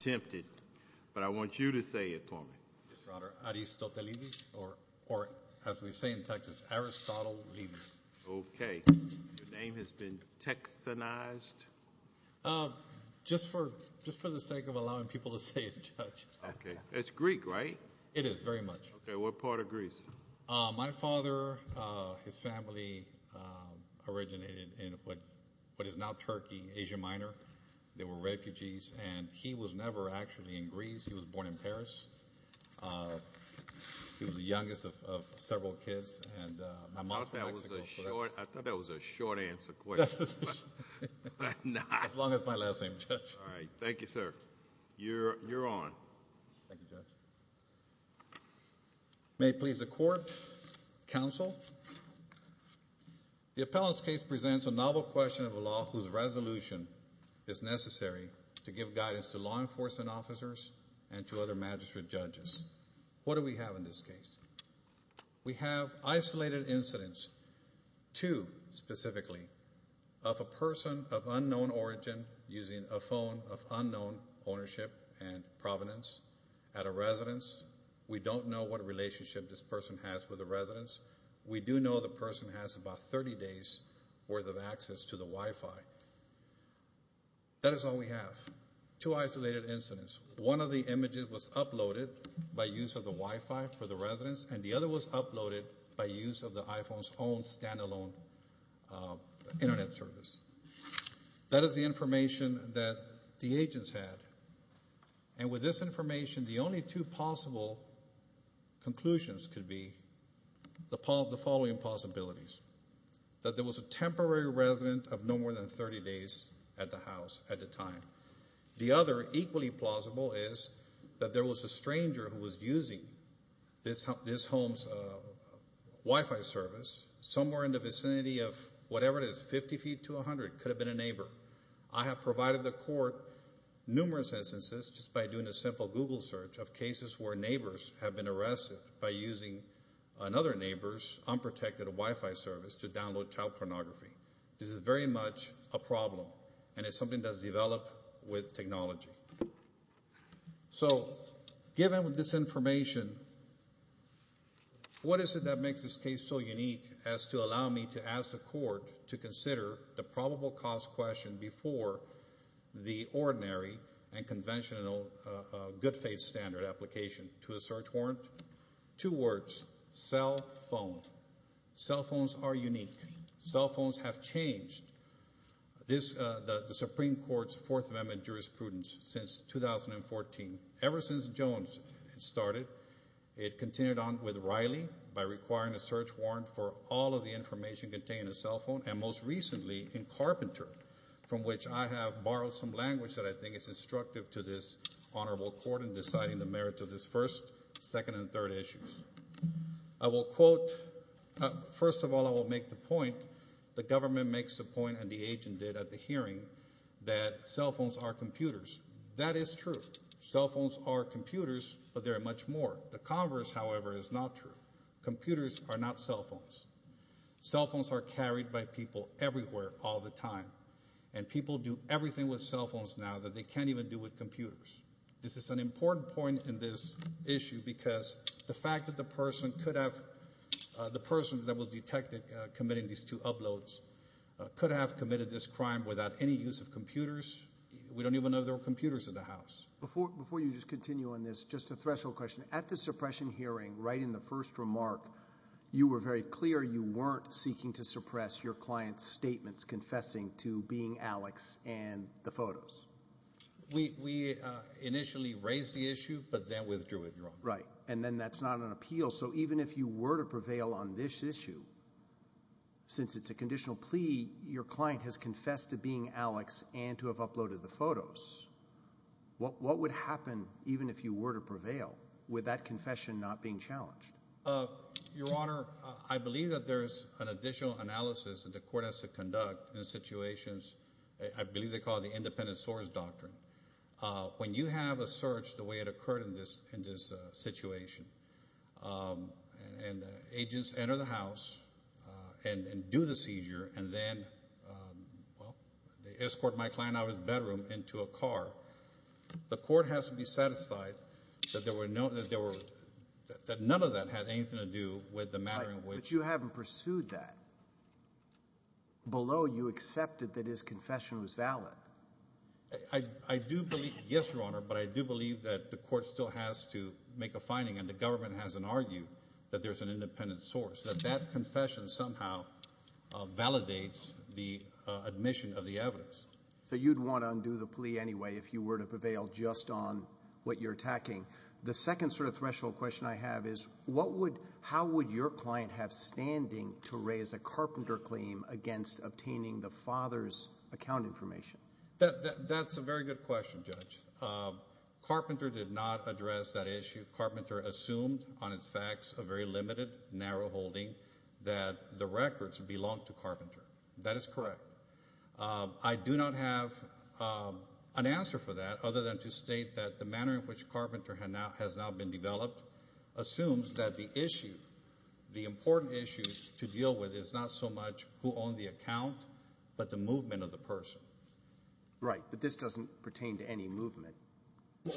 tempted, but I want you to say it for me. Yes, Your Honor. Aristotelevis, or as we say in Texas, Aristotle Levis. Okay. Your name has been Texanized? Just for the sake of allowing people to say it, Judge. Okay. It's Greek, right? It is, very much. Okay. What part of Greece? My father, his family originated in what is now Turkey, Asia Minor. They were refugees, and he was never actually in Greece. He was born in Paris. He was the youngest of several kids. I thought that was a short answer question. As long as it's my last name, Judge. All right. Thank you, sir. You're on. Thank you, Judge. May it please the Court, Counsel. The appellant's case presents a novel question of a law whose resolution is necessary to give guidance to law enforcement officers and to other magistrate judges. What do we have in this case? We have isolated incidents, two specifically, of a person of unknown origin using a phone of unknown ownership and provenance at a residence. We don't know what relationship this person has with the residence. We do know the person has about 30 days' worth of access to the Wi-Fi. That is all we have. Two isolated incidents. One of the images was uploaded by use of the Wi-Fi for the residence, and the other was uploaded by use of the iPhone's own stand-alone Internet service. That is the information that the agents had. And with this information, the only two possible conclusions could be the following possibilities. That there was a temporary resident of no more than 30 days at the house at the time. The other, equally plausible, is that there was a stranger who was using this home's Wi-Fi service somewhere in the vicinity of whatever it is, 50 feet to 100, could have been a neighbor. I have provided the court numerous instances, just by doing a simple Google search, of cases where neighbors have been arrested by using another neighbor's unprotected Wi-Fi service to download child pornography. This is very much a problem, and it's something that's developed with technology. So, given this information, what is it that makes this case so unique as to allow me to ask the court to consider the probable cause question before the ordinary and conventional good faith standard application to a search warrant? Two words, cell phone. Cell phones are unique. Cell phones have changed the Supreme Court's Fourth Amendment jurisprudence since 2014. Ever since Jones started, it continued on with Riley by requiring a search warrant for all of the information contained in a cell phone, and most recently, in Carpenter, from which I have borrowed some language that I think is instructive to this honorable court in deciding the merits of this first, second, and third issues. I will quote, first of all, I will make the point, the government makes the point and the agent did at the hearing, that cell phones are computers. That is true. Cell phones are computers, but there are much more. The converse, however, is not true. Computers are not cell phones. Cell phones are carried by people everywhere all the time, and people do everything with cell phones now that they can't even do with computers. This is an important point in this issue because the fact that the person could have, the person that was detected committing these two uploads could have committed this crime without any use of computers, we don't even know there were computers in the house. Before you just continue on this, just a threshold question. At the suppression hearing, right in the first remark, you were very clear you weren't seeking to suppress your client's statements confessing to being Alex and the photos. We initially raised the issue, but then withdrew it. Right. And then that's not an appeal. So even if you were to prevail on this issue, since it's a conditional plea, your client has confessed to being Alex and to have uploaded the photos. What would happen even if you were to prevail with that confession not being challenged? Your Honor, I believe that there's an additional analysis that the court has to conduct in situations I believe they call the independent source doctrine. When you have a search the way it occurred in this situation, and agents enter the house and do the seizure, and then, well, they escort my client out of his bedroom into a car. The court has to be satisfied that there were no, that none of that had anything to do with the matter in which. But you haven't pursued that. Below, you accepted that his confession was valid. I do believe, yes, Your Honor, but I do believe that the court still has to make a finding, and the government hasn't argued that there's an independent source. That that confession somehow validates the admission of the evidence. So you'd want to undo the plea anyway if you were to prevail just on what you're attacking. The second sort of threshold question I have is what would, how would your client have standing to raise a carpenter claim against obtaining the father's account information? That's a very good question, Judge. Carpenter did not address that issue. Carpenter assumed on its facts a very limited, narrow holding that the records belonged to Carpenter. That is correct. I do not have an answer for that other than to state that the manner in which Carpenter has now been developed assumes that the issue, the important issue to deal with is not so much who owned the account, but the movement of the person. Right, but this doesn't pertain to any movement.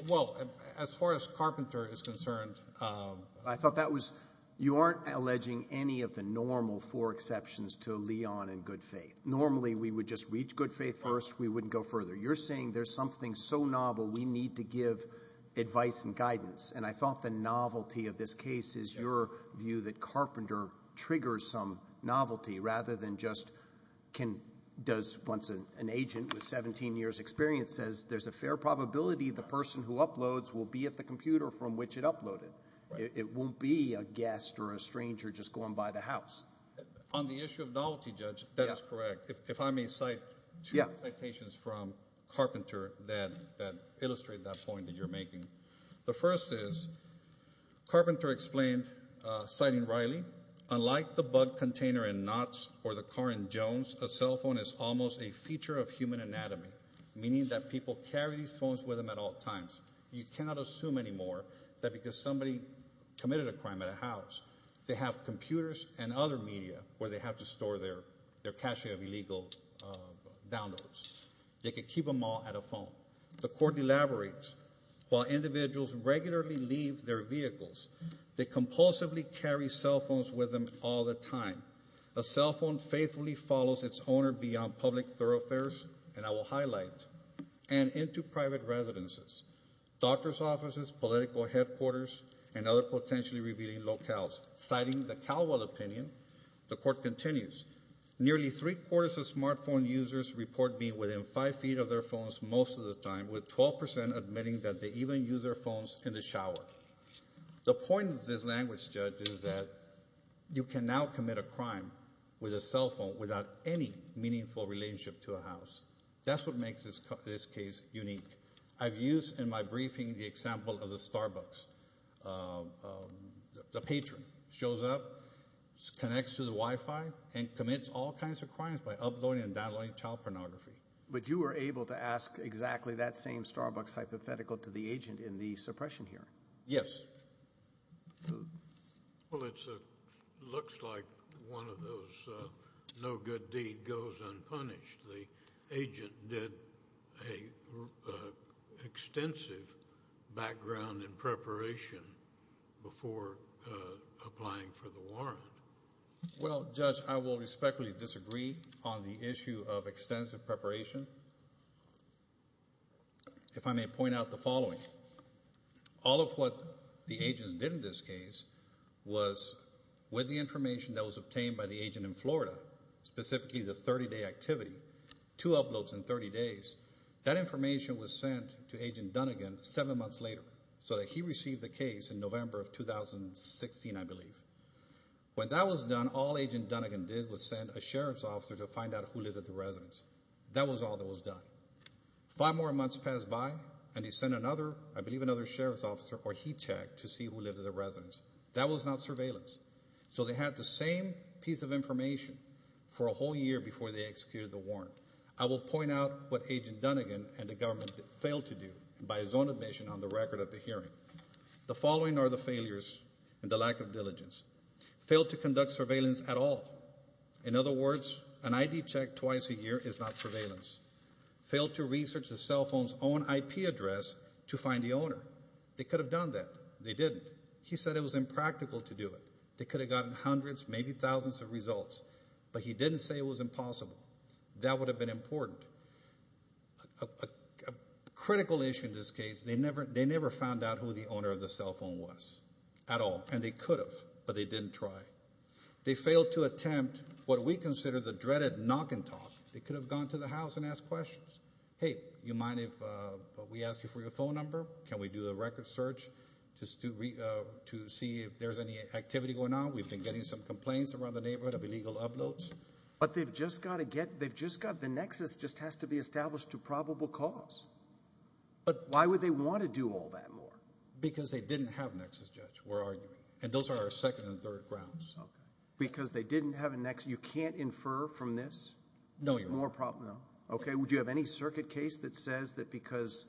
Well, as far as Carpenter is concerned, I thought that was, you aren't alleging any of the normal four exceptions to Leon and good faith. Normally we would just reach good faith first, we wouldn't go further. You're saying there's something so novel we need to give advice and guidance, and I thought the novelty of this case is your view that Carpenter triggers some novelty rather than just can, does once an agent with 17 years experience says there's a fair probability the person who uploads will be at the computer from which it uploaded. It won't be a guest or a stranger just going by the house. On the issue of novelty, Judge, that is correct. If I may cite two citations from Carpenter that illustrate that point that you're making. The first is Carpenter explained, citing Riley, unlike the bug container in Knott's or the car in Jones, a cell phone is almost a feature of human anatomy, meaning that people carry these phones with them at all times. You cannot assume anymore that because somebody committed a crime at a house, they have computers and other media where they have to store their cache of illegal downloads. They could keep them all at a phone. The court elaborates, while individuals regularly leave their vehicles, they compulsively carry cell phones with them all the time. A cell phone faithfully follows its owner beyond public thoroughfares, and I will highlight, and into private residences, doctor's offices, political headquarters, and other potentially revealing locales. Citing the Calwell opinion, the court continues. Nearly three-quarters of smartphone users report being within five feet of their phones most of the time, with 12% admitting that they even use their phones in the shower. The point of this language, Judge, is that you can now commit a crime with a cell phone without any meaningful relationship to a house. That's what makes this case unique. I've used in my briefing the example of the Starbucks. The patron shows up, connects to the Wi-Fi, and commits all kinds of crimes by uploading and downloading child pornography. But you were able to ask exactly that same Starbucks hypothetical to the agent in the suppression hearing. Yes. Well, it looks like one of those no good deed goes unpunished. The agent did an extensive background in preparation before applying for the warrant. Well, Judge, I will respectfully disagree on the issue of extensive preparation. If I may point out the following. All of what the agent did in this case was with the information that was obtained by the agent in Florida, specifically the 30-day activity, two uploads in 30 days, that information was sent to Agent Dunnigan seven months later so that he received the case in November of 2016, I believe. When that was done, all Agent Dunnigan did was send a sheriff's officer to find out who lived at the residence. That was all that was done. Five more months passed by and he sent another, I believe another sheriff's officer or he checked to see who lived at the residence. That was not surveillance. So they had the same piece of information for a whole year before they executed the warrant. I will point out what Agent Dunnigan and the government failed to do by his own admission on the record of the hearing. The following are the failures and the lack of diligence. Failed to conduct surveillance at all. In other words, an ID check twice a year is not surveillance. Failed to research the cell phone's own IP address to find the owner. They could have done that. They didn't. He said it was impractical to do it. They could have gotten hundreds, maybe thousands of results, but he didn't say it was impossible. That would have been important. A critical issue in this case, they never found out who the owner of the cell phone was at all. And they could have, but they didn't try. They failed to attempt what we consider the dreaded knock and talk. They could have gone to the house and asked questions. Hey, you mind if we ask you for your phone number? Can we do a record search to see if there's any activity going on? We've been getting some complaints around the neighborhood of illegal uploads. But they've just got to get, they've just got, the nexus just has to be established to probable cause. But why would they want to do all that more? Because they didn't have a nexus, Judge, we're arguing. And those are our second and third grounds. Because they didn't have a nexus. You can't infer from this? No, Your Honor. Okay, would you have any circuit case that says that because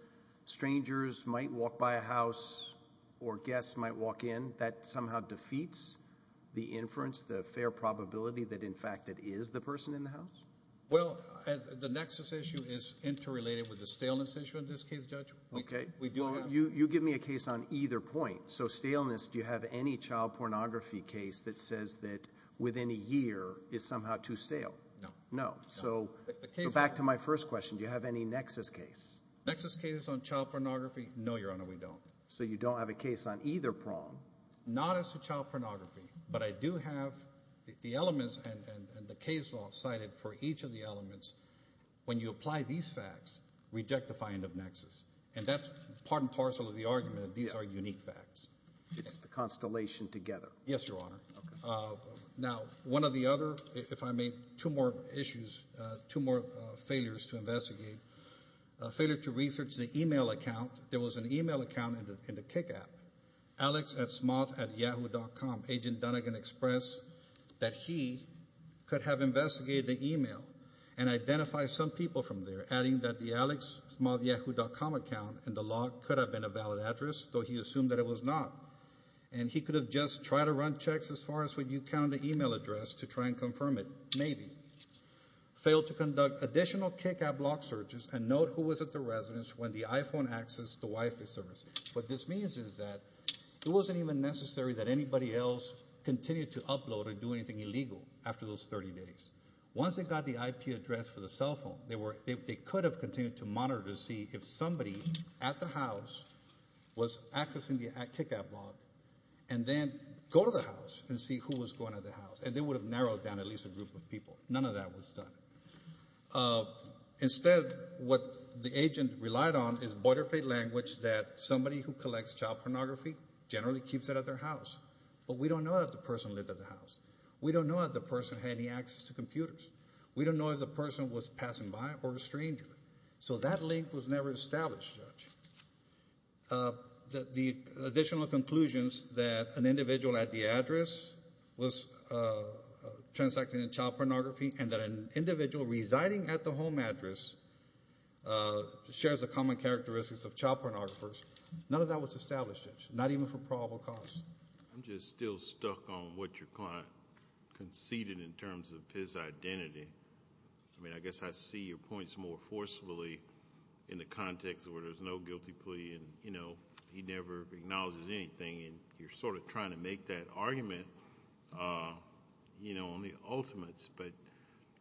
strangers might walk by a house or guests might walk in, that somehow defeats the inference, the fair probability that, in fact, it is the person in the house? Well, the nexus issue is interrelated with the staleness issue in this case, Judge. Okay, you give me a case on either point. So staleness, do you have any child pornography case that says that within a year is somehow too stale? No. No. So back to my first question, do you have any nexus case? Nexus case on child pornography, no, Your Honor, we don't. So you don't have a case on either prong? Not as to child pornography, but I do have the elements and the case law cited for each of the elements. When you apply these facts, reject the finding of nexus. And that's part and parcel of the argument that these are unique facts. It's the constellation together. Yes, Your Honor. Now, one of the other, if I may, two more issues, two more failures to investigate. A failure to research the e-mail account. There was an e-mail account in the Kik app. Alex at smoth at yahoo.com, Agent Dunagan expressed that he could have investigated the e-mail and identified some people from there, adding that the Alex smoth yahoo.com account in the log could have been a valid address, though he assumed that it was not. And he could have just tried to run checks as far as would you count the e-mail address to try and confirm it. Maybe. Failed to conduct additional Kik app log searches and note who was at the residence when the iPhone accessed the Wi-Fi service. What this means is that it wasn't even necessary that anybody else continue to upload or do anything illegal after those 30 days. Once they got the IP address for the cell phone, they could have continued to monitor to see if somebody at the house was accessing the Kik app log and then go to the house and see who was going to the house. And they would have narrowed down at least a group of people. None of that was done. Instead, what the agent relied on is boilerplate language that somebody who collects child pornography generally keeps it at their house. But we don't know if the person lived at the house. We don't know if the person had any access to computers. We don't know if the person was passing by or a stranger. So that link was never established, Judge. The additional conclusions that an individual at the address was transacting in child pornography and that an individual residing at the home address shares the common characteristics of child pornographers, none of that was established, Judge, not even for probable cause. I'm just still stuck on what your client conceded in terms of his identity. I mean, I guess I see your points more forcefully in the context where there's no guilty plea and, you know, he never acknowledges anything. And you're sort of trying to make that argument, you know, on the ultimates. But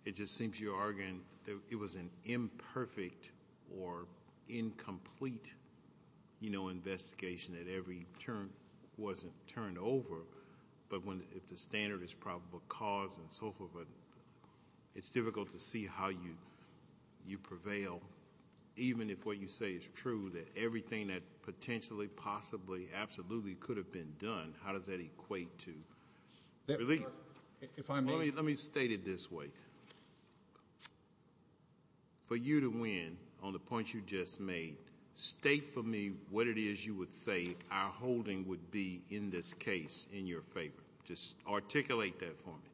it just seems you're arguing it was an imperfect or incomplete, you know, investigation that every turn wasn't turned over. But if the standard is probable cause and so forth, it's difficult to see how you prevail. Even if what you say is true, that everything that potentially, possibly, absolutely could have been done, how does that equate to relief? If I may. Let me state it this way. For you to win on the points you just made, state for me what it is you would say our holding would be in this case in your favor. Just articulate that for me.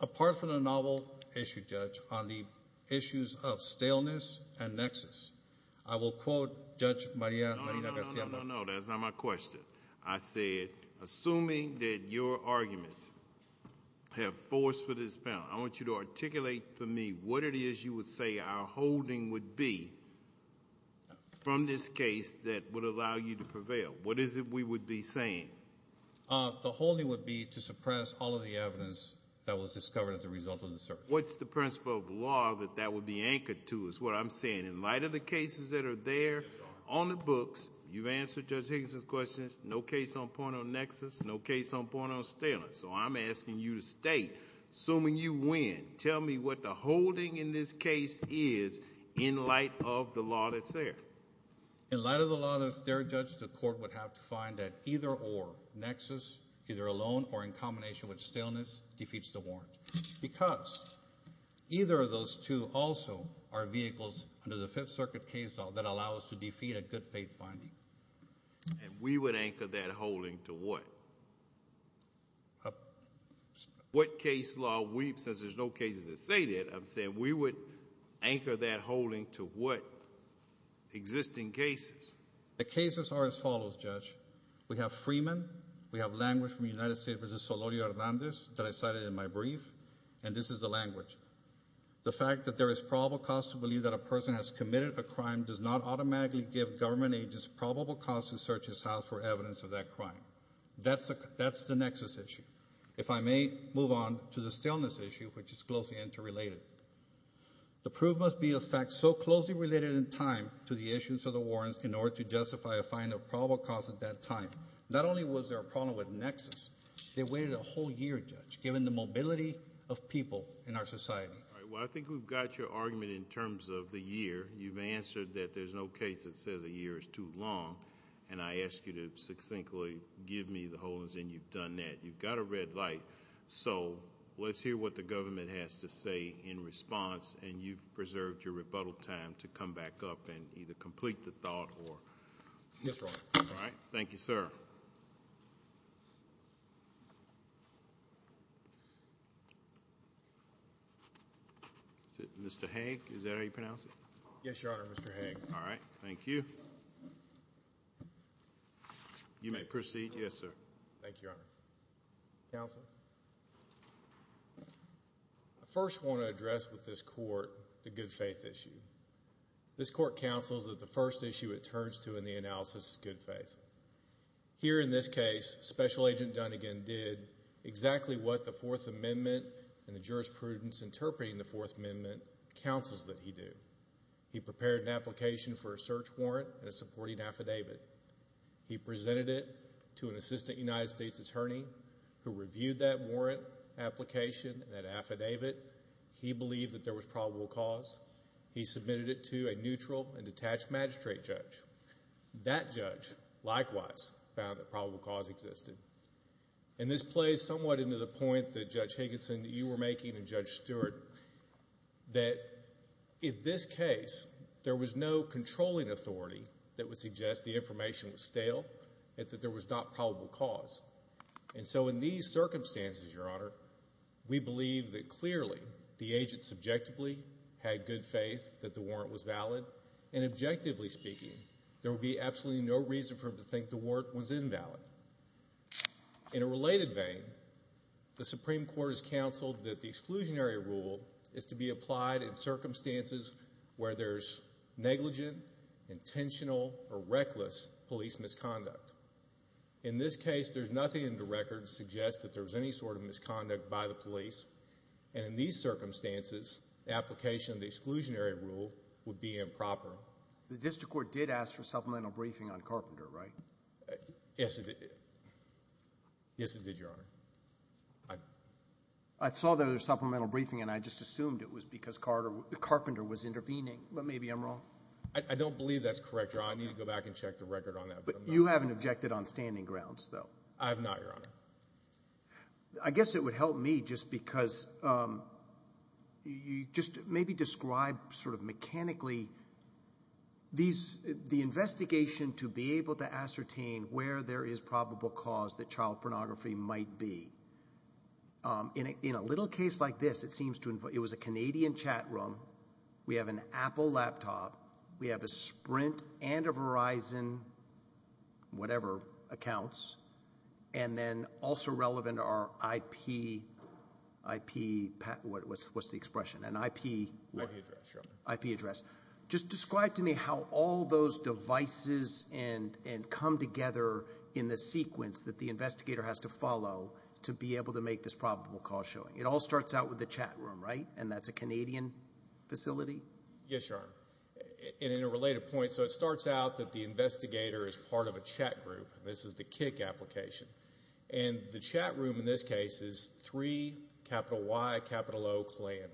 Apart from the novel issue, Judge, on the issues of staleness and nexus, I will quote Judge Maria Marina Garcia. No, no, no. That's not my question. I said, assuming that your arguments have force for this panel, I want you to articulate for me what it is you would say our holding would be from this case that would allow you to prevail. What is it we would be saying? The holding would be to suppress all of the evidence that was discovered as a result of the search. What's the principle of law that that would be anchored to is what I'm saying. In light of the cases that are there on the books, you've answered Judge Higginson's questions. No case on point on nexus. No case on point on staleness. So I'm asking you to state, assuming you win, tell me what the holding in this case is in light of the law that's there. In light of the law that's there, Judge, the court would have to find that either or. Nexus, either alone or in combination with staleness, defeats the warrant. Because either of those two also are vehicles under the Fifth Circuit case law that allow us to defeat a good faith finding. And we would anchor that holding to what? What case law we, since there's no cases that say that, I'm saying we would anchor that holding to what? Existing cases. The cases are as follows, Judge. We have Freeman. We have language from the United States versus Solorio Hernandez that I cited in my brief. And this is the language. The fact that there is probable cause to believe that a person has committed a crime does not automatically give government agents probable cause to search his house for evidence of that crime. That's the nexus issue. If I may move on to the staleness issue, which is closely interrelated. The proof must be a fact so closely related in time to the issuance of the warrants in order to justify a find of probable cause at that time. Not only was there a problem with Nexus, they waited a whole year, Judge, given the mobility of people in our society. All right, well, I think we've got your argument in terms of the year. You've answered that there's no case that says a year is too long, and I ask you to succinctly give me the holdings and you've done that. You've got a red light. So let's hear what the government has to say in response. And you've preserved your rebuttal time to come back up and either complete the thought or yes. Right. All right. Thank you, sir. Mr. Hank, is that how you pronounce it? Yes, Your Honor. Mr. All right. Thank you. You may proceed. Yes, sir. Thank you, Your Honor. Counsel. I first want to address with this court the good faith issue. This court counsels that the first issue it turns to in the analysis is good faith. Here in this case, Special Agent Dunnigan did exactly what the Fourth Amendment and the jurisprudence interpreting the Fourth Amendment counsels that he did. He prepared an application for a search warrant and a supporting affidavit. He presented it to an assistant United States attorney who reviewed that warrant application and that affidavit. He believed that there was probable cause. He submitted it to a neutral and detached magistrate judge. That judge, likewise, found that probable cause existed. And this plays somewhat into the point that, Judge Higginson, that you were making and Judge Stewart, that in this case there was no controlling authority that would suggest the information was stale and that there was not probable cause. And so in these circumstances, Your Honor, we believe that clearly the agent subjectively had good faith that the warrant was valid. And objectively speaking, there would be absolutely no reason for him to think the warrant was invalid. In a related vein, the Supreme Court has counseled that the exclusionary rule is to be applied in circumstances where there's negligent, intentional, or reckless police misconduct. In this case, there's nothing in the record to suggest that there was any sort of misconduct by the police. And in these circumstances, the application of the exclusionary rule would be improper. The district court did ask for supplemental briefing on Carpenter, right? Yes, it did. Yes, it did, Your Honor. I saw their supplemental briefing and I just assumed it was because Carpenter was intervening. But maybe I'm wrong. I don't believe that's correct, Your Honor. I need to go back and check the record on that. But you haven't objected on standing grounds, though. I have not, Your Honor. I guess it would help me just because you just maybe describe sort of mechanically the investigation to be able to ascertain where there is probable cause that child pornography might be. In a little case like this, it was a Canadian chat room. We have an Apple laptop. We have a Sprint and a Verizon, whatever, accounts. And then also relevant are IP, what's the expression, an IP? IP address, Your Honor. IP address. Just describe to me how all those devices and come together in the sequence that the investigator has to follow to be able to make this probable cause showing. It all starts out with the chat room, right? And that's a Canadian facility? Yes, Your Honor. And in a related point, so it starts out that the investigator is part of a chat group. This is the Kik application. And the chat room in this case is 3Y0CLAN.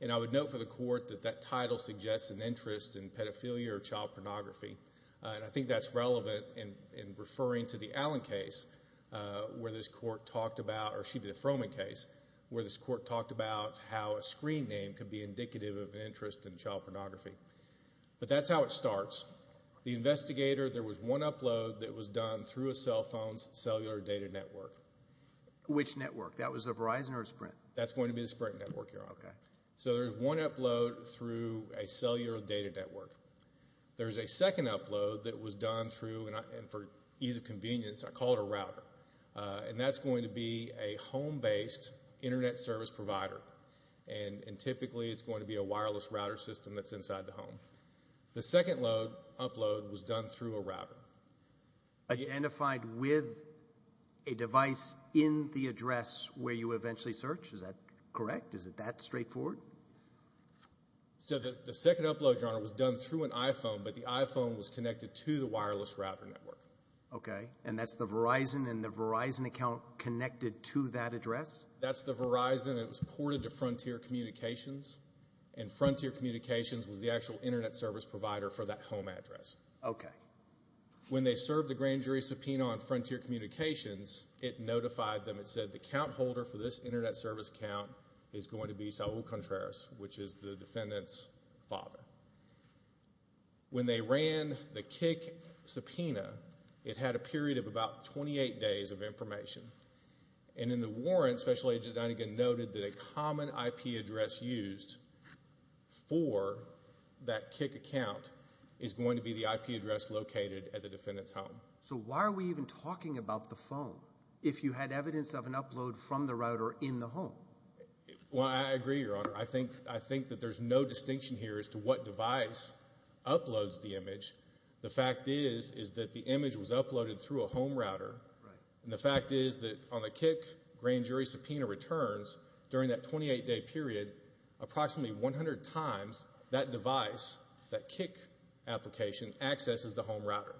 And I would note for the court that that title suggests an interest in pedophilia or child pornography. And I think that's relevant in referring to the Allen case where this court talked about, or excuse me, the Froman case, where this court talked about how a screen name could be indicative of an interest in child pornography. But that's how it starts. The investigator, there was one upload that was done through a cell phone's cellular data network. Which network? That was a Verizon or a Sprint? That's going to be the Sprint network, Your Honor. So there's one upload through a cellular data network. There's a second upload that was done through, and for ease of convenience, I call it a router. And that's going to be a home-based internet service provider. And typically it's going to be a wireless router system that's inside the home. The second upload was done through a router. Identified with a device in the address where you eventually searched? Is that correct? Is it that straightforward? So the second upload, Your Honor, was done through an iPhone, but the iPhone was connected to the wireless router network. Okay. And that's the Verizon and the Verizon account connected to that address? That's the Verizon. It was ported to Frontier Communications. And Frontier Communications was the actual internet service provider for that home address. Okay. When they served the grand jury subpoena on Frontier Communications, it notified them. It said the account holder for this internet service account is going to be Saul Contreras, which is the defendant's father. When they ran the CIC subpoena, it had a period of about 28 days of information. And in the warrant, Special Agent Dunigan noted that a common IP address used for that CIC account is going to be the IP address located at the defendant's home. So why are we even talking about the phone? If you had evidence of an upload from the router in the home? Well, I agree, Your Honor. I think I think that there's no distinction here as to what device uploads the image. The fact is, is that the image was uploaded through a home router. And the fact is that on the CIC grand jury subpoena returns during that 28 day period, approximately 100 times that device, that CIC application, accesses the home router.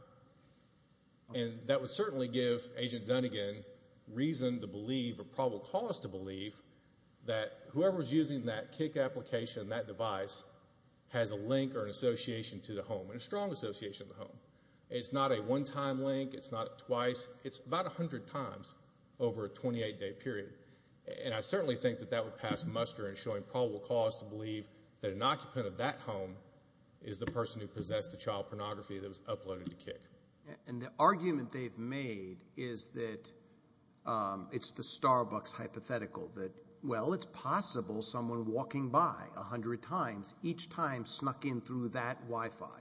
And that would certainly give Agent Dunigan reason to believe, or probable cause to believe, that whoever was using that CIC application, that device, has a link or an association to the home, and a strong association to the home. It's not a one-time link. It's not twice. It's about 100 times over a 28 day period. And I certainly think that that would pass muster in showing probable cause to believe that an occupant of that home is the person who possessed the child pornography that was uploaded to CIC. And the argument they've made is that it's the Starbucks hypothetical that, well, it's possible someone walking by 100 times, each time snuck in through that Wi-Fi.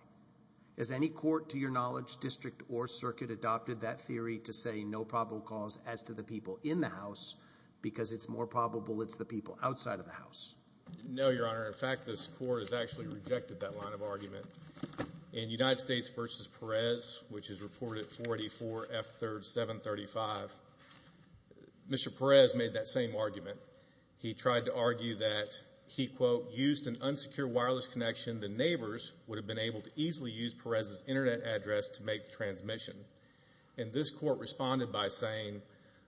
Has any court, to your knowledge, district or circuit, adopted that theory to say no probable cause as to the people in the house because it's more probable it's the people outside of the house? No, Your Honor. In fact, this court has actually rejected that line of argument. In United States v. Perez, which is reported 484F3735, Mr. Perez made that same argument. He tried to argue that he, quote, used an unsecure wireless connection. The neighbors would have been able to easily use Perez's internet address to make the transmission. And this court responded by saying,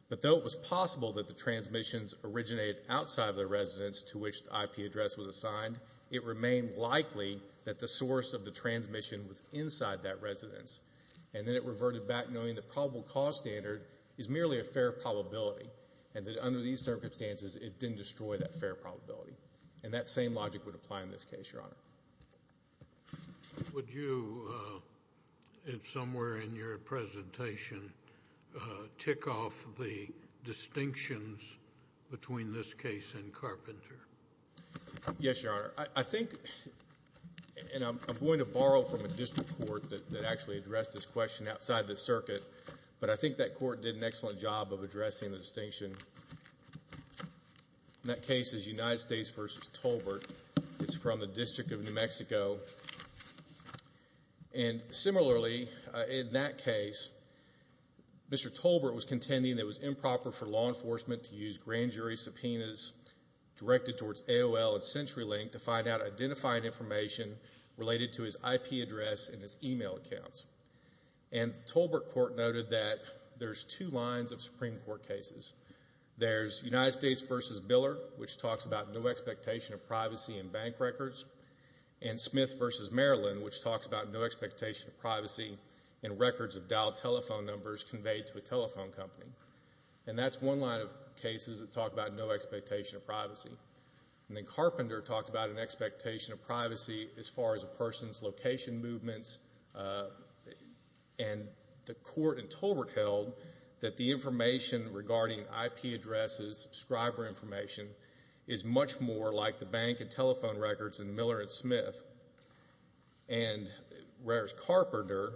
but though it was possible that the transmissions originated outside of the residence to which the IP address was assigned, it remained likely that the source of the transmission was inside that residence. And then it reverted back knowing the probable cause standard is merely a fair probability. And that under these circumstances, it didn't destroy that fair probability. And that same logic would apply in this case, Your Honor. Would you, if somewhere in your presentation, tick off the distinctions between this case and Carpenter? Yes, Your Honor. I think, and I'm going to borrow from a district court that actually addressed this question outside the circuit. But I think that court did an excellent job of addressing the distinction. That case is United States v. Tolbert. It's from the District of New Mexico. And similarly, in that case, Mr. Tolbert was contending that it was improper for law enforcement to use grand jury subpoenas directed towards AOL and CenturyLink to find out identified information related to his IP address and his email accounts. And the Tolbert court noted that there's two lines of Supreme Court cases. There's United States v. Biller, which talks about no expectation of privacy in bank records. And Smith v. Maryland, which talks about no expectation of privacy in records of dialed telephone numbers conveyed to a telephone company. And that's one line of cases that talk about no expectation of privacy. And then Carpenter talked about an expectation of privacy as far as a person's location movements. And the court in Tolbert held that the information regarding IP addresses, subscriber information, is much more like the bank and telephone records in Miller and Smith. And whereas Carpenter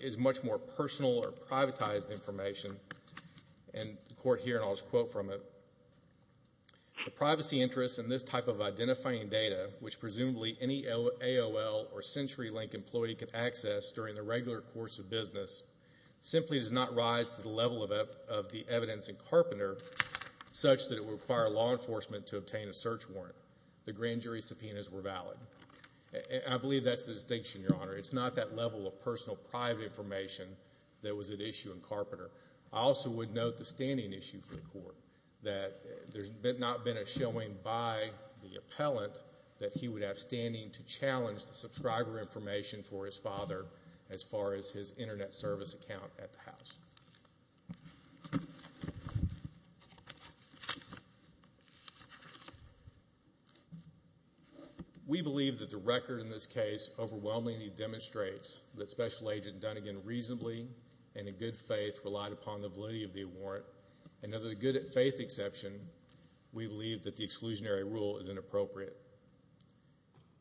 is much more personal or privatized information. And the court here, and I'll just quote from it. The privacy interest in this type of identifying data, which presumably any AOL or CenturyLink employee can access during the regular course of business, simply does not rise to the level of the evidence in Carpenter such that it would require law enforcement to obtain a search warrant. The grand jury subpoenas were valid. And I believe that's the distinction, Your Honor. It's not that level of personal private information that was at issue in Carpenter. I also would note the standing issue for the court. That there's not been a showing by the appellant that he would have standing to challenge the subscriber information for his father as far as his internet service account at the house. We believe that the record in this case overwhelmingly demonstrates that Special Agent Dunnigan reasonably and in good faith relied upon the validity of the warrant. And under the good faith exception, we believe that the exclusionary rule is inappropriate.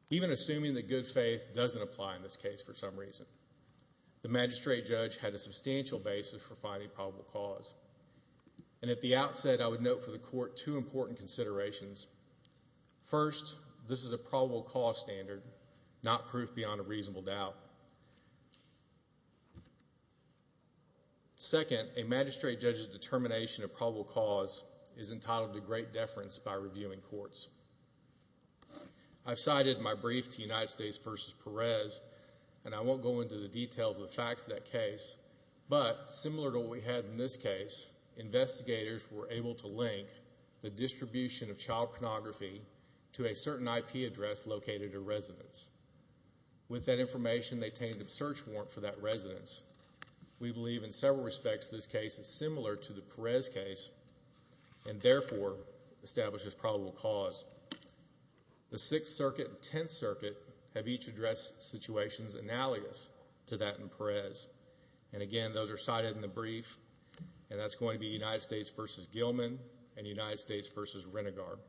Even assuming that good faith doesn't apply in this case for some reason. The magistrate judge had a substantial basis for finding probable cause. And at the outset, I would note for the court two important considerations. First, this is a probable cause standard, not proof beyond a reasonable doubt. Second, a magistrate judge's determination of probable cause is entitled to great deference by reviewing courts. I've cited my brief to United States v. Perez, and I won't go into the details of the facts of that case, but similar to what we had in this case, investigators were able to link the distribution of child pornography to a certain IP address located at a residence. With that information, they obtained a search warrant for that residence. We believe in several respects this case is similar to the Perez case, and therefore, establishes probable cause. The Sixth Circuit and Tenth Circuit have each addressed situations analogous to that in Perez. And again, those are cited in the brief, and that's going to be United States v. Gilman and United States v. Renegard.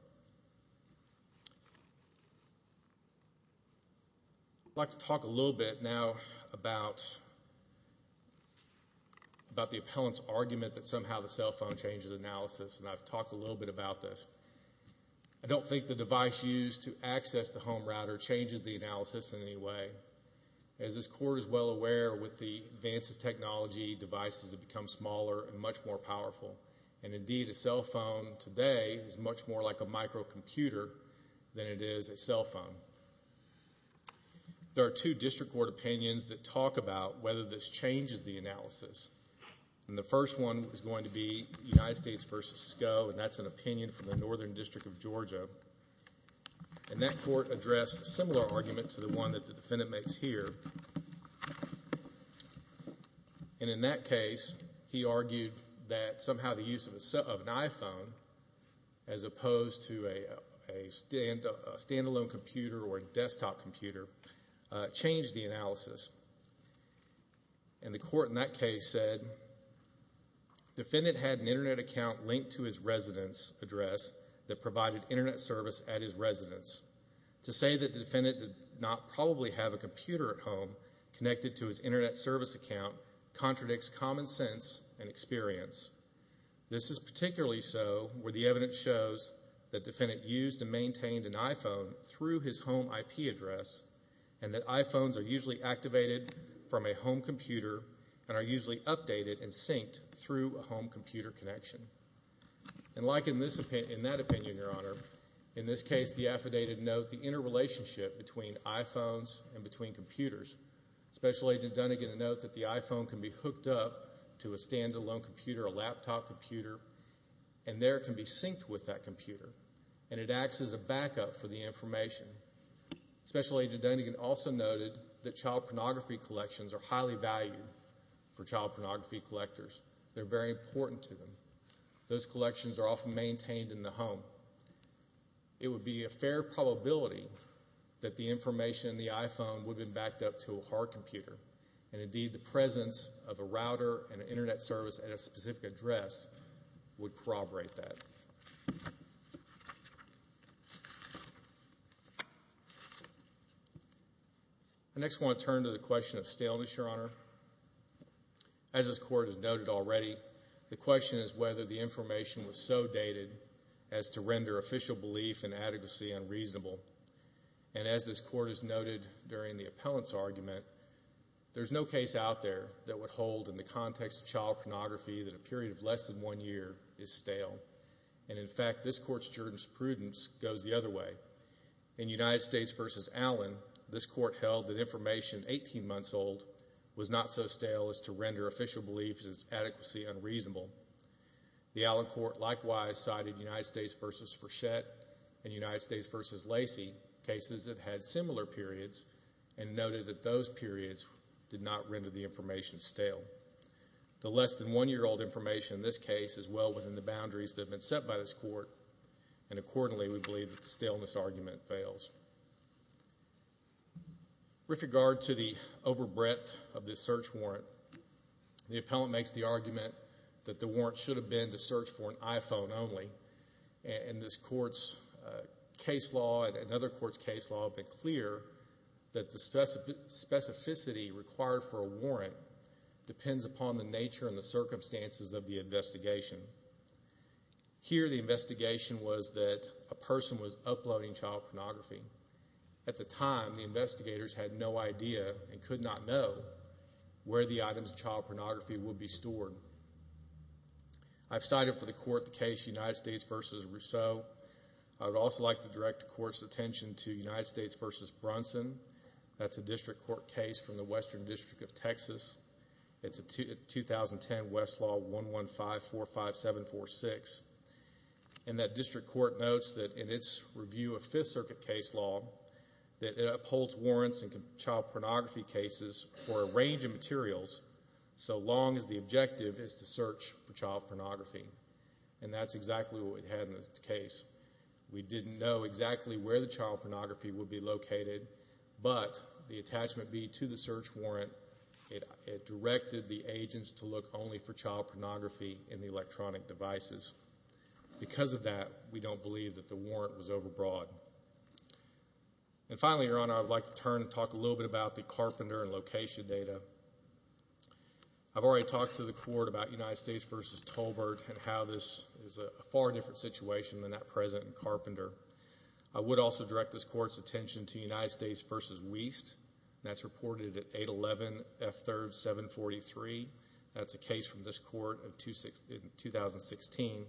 I'd like to talk a little bit now about the appellant's argument that somehow the cell phone changes analysis, and I've talked a little bit about this. I don't think the device used to access the home router changes the analysis in any way. As this court is well aware, with the advance of technology, devices have become smaller and much more powerful. And indeed, a cell phone today is much more like a microcomputer than it is a cell phone. There are two district court opinions that talk about whether this changes the analysis. And the first one is going to be United States v. Sko, and that's an opinion from the Northern District of Georgia. And that court addressed a similar argument to the one that the defendant makes here. And in that case, he argued that somehow the use of an iPhone, as opposed to a stand-alone computer or a desktop computer, changed the analysis. And the court in that case said, defendant had an Internet account linked to his residence address that provided Internet service at his residence. To say that the defendant did not probably have a computer at home connected to his Internet service account contradicts common sense and experience. This is particularly so where the evidence shows that defendant used and maintained an iPhone through his home IP address, and that iPhones are usually activated from a home computer and are usually updated and synced through a home computer connection. And like in that opinion, Your Honor, in this case, the affidavit notes the interrelationship between iPhones and between computers. Special Agent Dunnigan notes that the iPhone can be hooked up to a stand-alone computer, a laptop computer, and there it can be synced with that computer, and it acts as a backup for the information. Special Agent Dunnigan also noted that child pornography collections are highly valued for child pornography collectors. They're very important to them. Those collections are often maintained in the home. It would be a fair probability that the information in the iPhone would have been backed up to a hard computer. And indeed, the presence of a router and an Internet service at a specific address would corroborate that. I next want to turn to the question of staleness, Your Honor. As this Court has noted already, the question is whether the information was so dated as to render official belief in adequacy unreasonable. And as this Court has noted during the appellant's argument, there's no case out there that would hold in the context of child pornography that a period of less than one year is stale. And in fact, this Court's jurisprudence goes the other way. In United States v. Allen, this Court held that information 18 months old was not so stale as to render official belief in its adequacy unreasonable. The Allen Court likewise cited United States v. Frechette and United States v. Lacey, cases that had similar periods, and noted that those periods did not render the information stale. The less than one year old information in this case is well within the boundaries that have been set by this Court, and accordingly, we believe that the staleness argument fails. With regard to the over breadth of this search warrant, the appellant makes the argument that the warrant should have been to search for an iPhone only. And this Court's case law and other Court's case law have been clear that the specificity required for a warrant depends upon the nature and the circumstances of the investigation. Here, the investigation was that a person was uploading child pornography. At the time, the investigators had no idea and could not know where the items of child pornography would be stored. I've cited for the Court the case United States v. Rousseau. I would also like to direct the Court's attention to United States v. Brunson. That's a District Court case from the Western District of Texas. It's a 2010 Westlaw 11545746. And that District Court notes that in its review of Fifth Circuit case law, that it upholds warrants in child pornography cases for a range of materials so long as the objective is to search for child pornography. And that's exactly what we had in this case. We didn't know exactly where the child pornography would be located, but the attachment B to the search warrant, it directed the agents to look only for child pornography in the electronic devices. Because of that, we don't believe that the warrant was overbroad. And finally, Your Honor, I would like to turn and talk a little bit about the Carpenter and Location data. I've already talked to the Court about United States v. Tolbert and how this is a far different situation than that present in Carpenter. I would also direct this Court's attention to United States v. Wiest. That's reported at 811 F3rd 743. That's a case from this Court in 2016.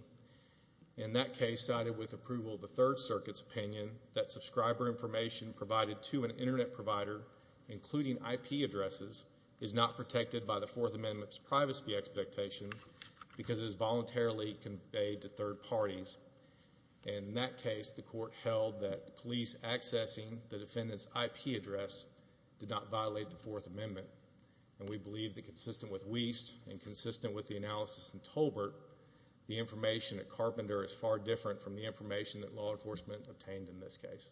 In that case, cited with approval of the Third Circuit's opinion, that subscriber information provided to an Internet provider, including IP addresses, is not protected by the Fourth Amendment's privacy expectation because it is voluntarily conveyed to third parties. In that case, the Court held that police accessing the defendant's IP address did not violate the Fourth Amendment. And we believe that consistent with Wiest and consistent with the analysis in Tolbert, the information at Carpenter is far different from the information that law enforcement obtained in this case.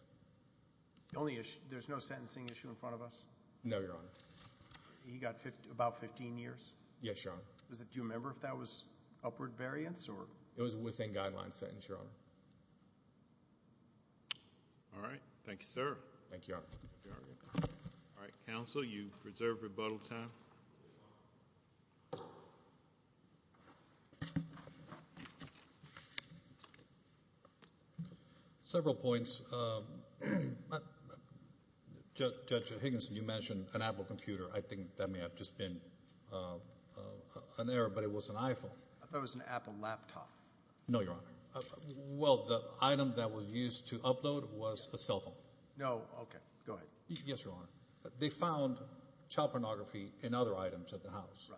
There's no sentencing issue in front of us? No, Your Honor. He got about 15 years? Yes, Your Honor. Do you remember if that was upward variance? It was within guideline sentence, Your Honor. All right. Thank you, sir. Thank you, Your Honor. All right. Counsel, you reserve rebuttal time. Several points. Judge Higginson, you mentioned an Apple computer. I think that may have just been an error, but it was an iPhone. I thought it was an Apple laptop. No, Your Honor. Well, the item that was used to upload was a cell phone. No. Okay. Go ahead. Yes, Your Honor. They found child pornography in other items at the house,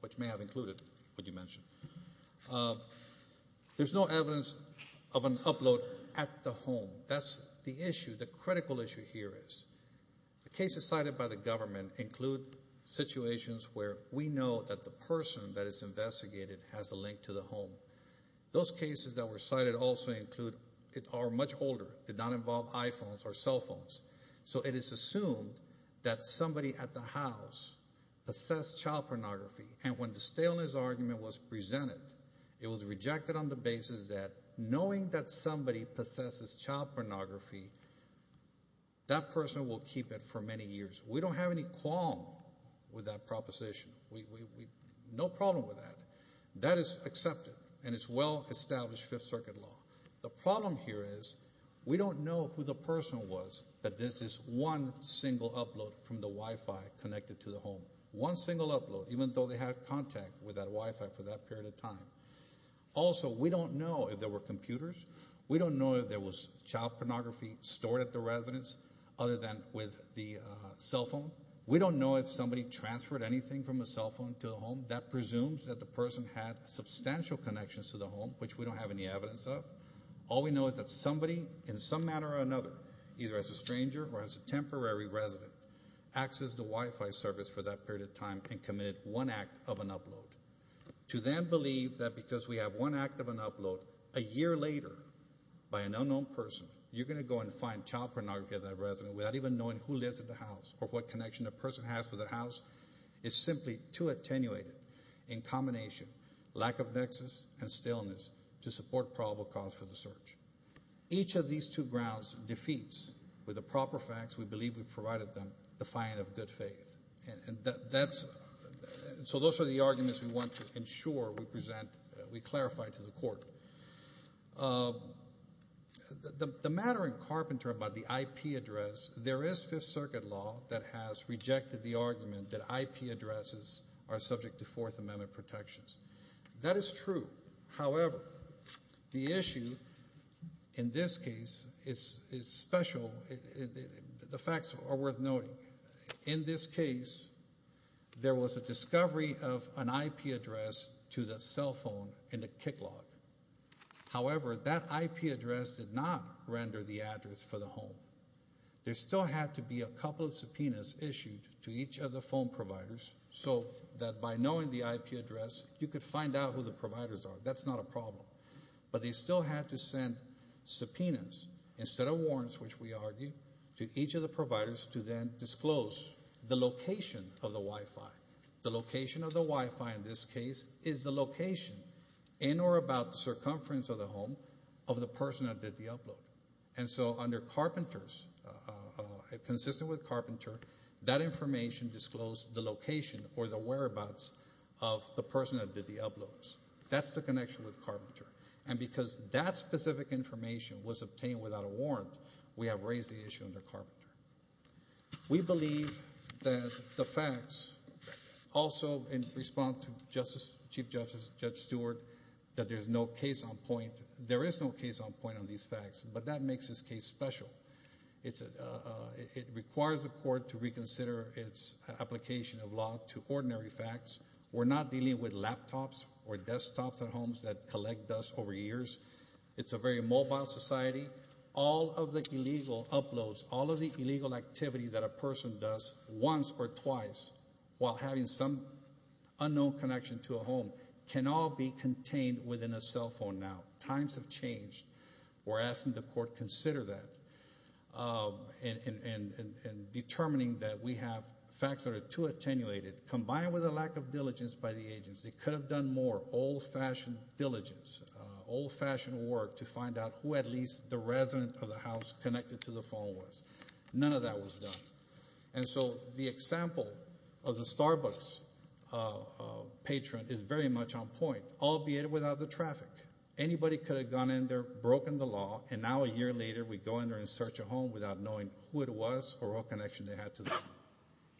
which may have included what you mentioned. There's no evidence of an upload at the home. That's the issue. The critical issue here is the cases cited by the government include situations where we know that the person that is investigated has a link to the home. Those cases that were cited also include, are much older, did not involve iPhones or cell phones. So it is assumed that somebody at the house possessed child pornography, and when the staleness argument was presented, it was rejected on the basis that knowing that somebody possesses child pornography, that person will keep it for many years. We don't have any qualm with that proposition. No problem with that. That is accepted, and it's well-established Fifth Circuit law. The problem here is we don't know who the person was that did this one single upload from the Wi-Fi connected to the home. One single upload, even though they had contact with that Wi-Fi for that period of time. Also, we don't know if there were computers. We don't know if there was child pornography stored at the residence, other than with the cell phone. We don't know if somebody transferred anything from a cell phone to a home. That presumes that the person had substantial connections to the home, which we don't have any evidence of. All we know is that somebody, in some manner or another, either as a stranger or as a temporary resident, accessed the Wi-Fi service for that period of time and committed one act of an upload. To then believe that because we have one act of an upload a year later by an unknown person, you're going to go and find child pornography at that residence without even knowing who lives at the house or what connection a person has with that house is simply too attenuated in combination, lack of nexus and staleness to support probable cause for the search. Each of these two grounds defeats, with the proper facts we believe we've provided them, the fine of good faith. So those are the arguments we want to ensure we present, we clarify to the court. The matter in Carpenter about the IP address, there is Fifth Circuit law that has rejected the argument that IP addresses are subject to Fourth Amendment protections. That is true. However, the issue in this case is special. The facts are worth noting. In this case, there was a discovery of an IP address to the cell phone in the kick lock. However, that IP address did not render the address for the home. There still had to be a couple of subpoenas issued to each of the phone providers so that by knowing the IP address, you could find out who the providers are. That's not a problem. But they still had to send subpoenas instead of warrants, which we argue, to each of the providers to then disclose the location of the Wi-Fi. The location of the Wi-Fi in this case is the location in or about the circumference of the home of the person that did the upload. And so under Carpenter's, consistent with Carpenter, that information disclosed the location or the whereabouts of the person that did the uploads. That's the connection with Carpenter. And because that specific information was obtained without a warrant, we have raised the issue under Carpenter. We believe that the facts also respond to Chief Judge Stewart that there is no case on point on these facts. But that makes this case special. It requires the court to reconsider its application of law to ordinary facts. We're not dealing with laptops or desktops at homes that collect dust over years. It's a very mobile society. All of the illegal uploads, all of the illegal activity that a person does once or twice while having some unknown connection to a home, can all be contained within a cell phone now. Times have changed. We're asking the court to consider that. And determining that we have facts that are too attenuated, combined with a lack of diligence by the agency, could have done more old-fashioned diligence, old-fashioned work, to find out who at least the resident of the house connected to the phone was. None of that was done. And so the example of the Starbucks patron is very much on point, albeit without the traffic. Anybody could have gone in there, broken the law, and now a year later we go in there and search a home without knowing who it was or what connection they had to the home.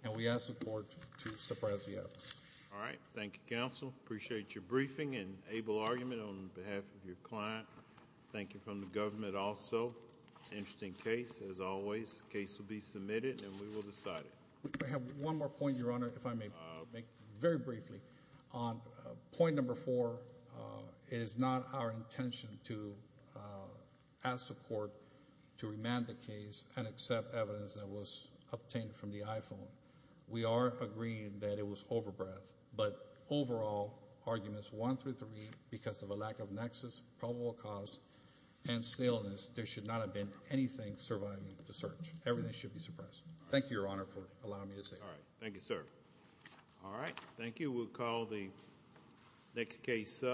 And we ask the court to suppress the evidence. All right. Thank you, Counsel. Appreciate your briefing and able argument on behalf of your client. Thank you from the government also. Interesting case, as always. The case will be submitted and we will decide it. I have one more point, Your Honor, if I may. Very briefly. On point number four, it is not our intention to ask the court to remand the case and accept evidence that was obtained from the iPhone. We are agreeing that it was over-breath, but overall arguments one through three, because of a lack of nexus, probable cause, and staleness, there should not have been anything surviving the search. Everything should be suppressed. Thank you, Your Honor, for allowing me to say that. All right. Thank you, sir. All right. Thank you. We'll call the next case up.